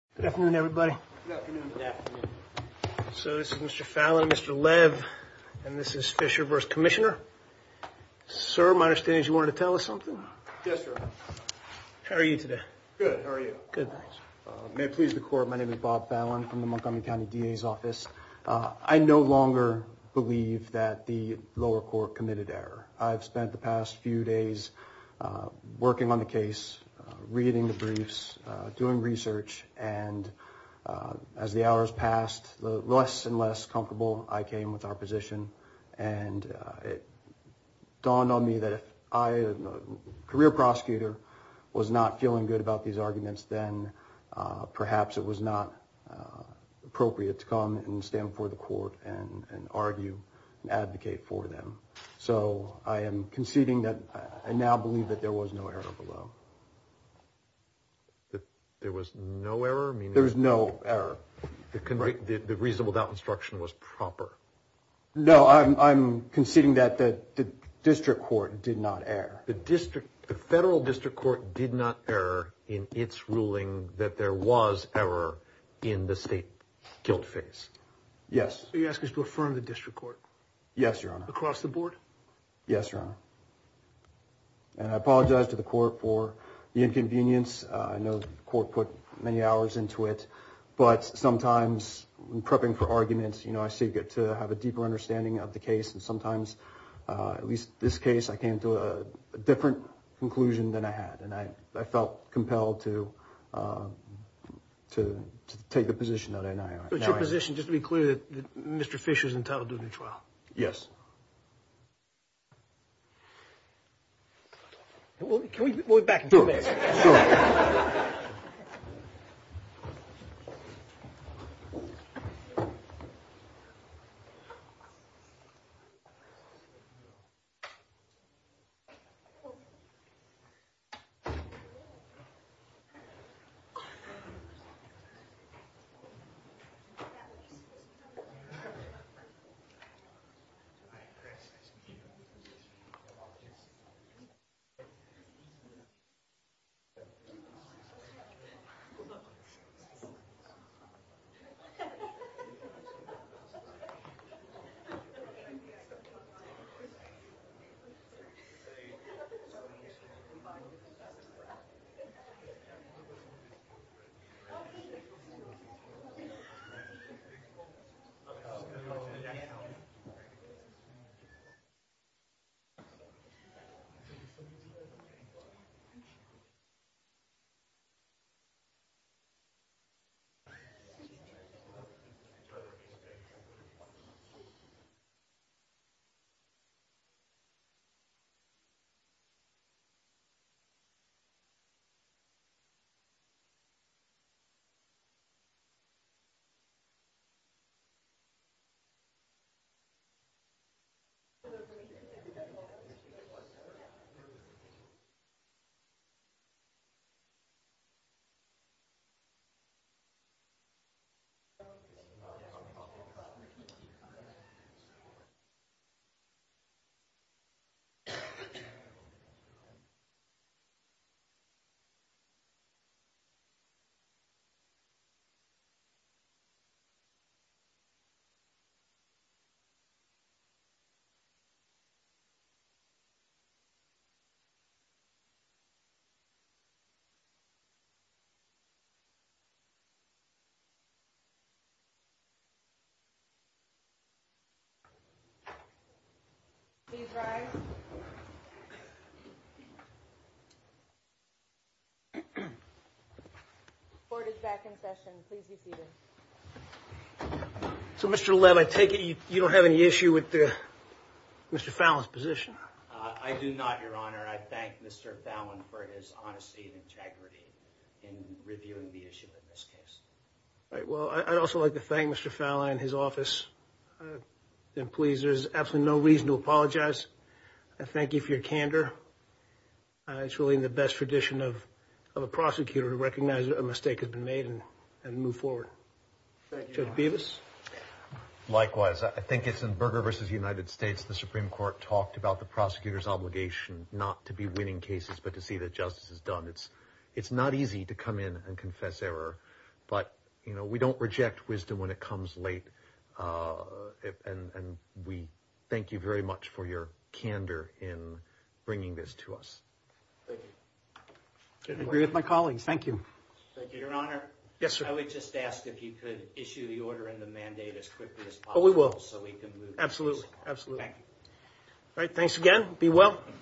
Good afternoon everybody. So this is Mr. Fallon, Mr. Lev, and this is Fisher v. Commissioner. Sir, my understanding is you wanted to tell us something? Yes, sir. How are you today? Good, how are you? Good. May it please the court, my name is Bob Fallon from the Montgomery County DA's office. I no longer believe that the lower court committed error. I've spent the past few As the hours passed, the less and less comfortable I came with our position and it dawned on me that if I, a career prosecutor, was not feeling good about these arguments, then perhaps it was not appropriate to come and stand before the court and argue and advocate for them. So I am conceding that I now believe that there was no error below. There was no error? There was no error. The reasonable doubt instruction was proper. No, I'm conceding that the district court did not err. The district, the federal district court did not err in its ruling that there was error in the state guilt phase. Yes. So you ask us to affirm the district court? Yes, your honor. Across the board? Yes, your honor. And I apologize to the the inconvenience. I know the court put many hours into it, but sometimes when prepping for arguments, you know, I seek it to have a deeper understanding of the case and sometimes, at least this case, I came to a different conclusion than I had and I felt compelled to to take the position that I now have. But your position, just to be clear, Mr. Fisher is entitled to the trial? Yes. Well, can we go back and do that? Thank you. Please rise. The court is back in session. Please be seated. So, Mr. Lev, I take it you don't have any issue with Mr. Fallon's position? I do not, your honor. I thank Mr. Fallon for his honesty and integrity in reviewing the issue in this case. Right. Well, I'd also like to thank Mr. Fallon and his office. I'm pleased. There's absolutely no reason to apologize. I thank you for your candor. It's really in the best tradition of a prosecutor to recognize a mistake has been made and move forward. Judge Bevis? Likewise. I think it's in Berger v. United States, the Supreme Court talked about the prosecutor's obligation not to be winning cases, but to see that justice is done. It's not easy to come in and confess error, but, you know, we don't reject wisdom when it comes late. And we thank you very much for your candor in bringing this to us. I agree with my colleagues. Thank you. Thank you, your honor. Yes, sir. I would just ask if you could issue the order and the mandate as quickly as possible so we can move. Absolutely. Absolutely. All right. Thanks again. Be well.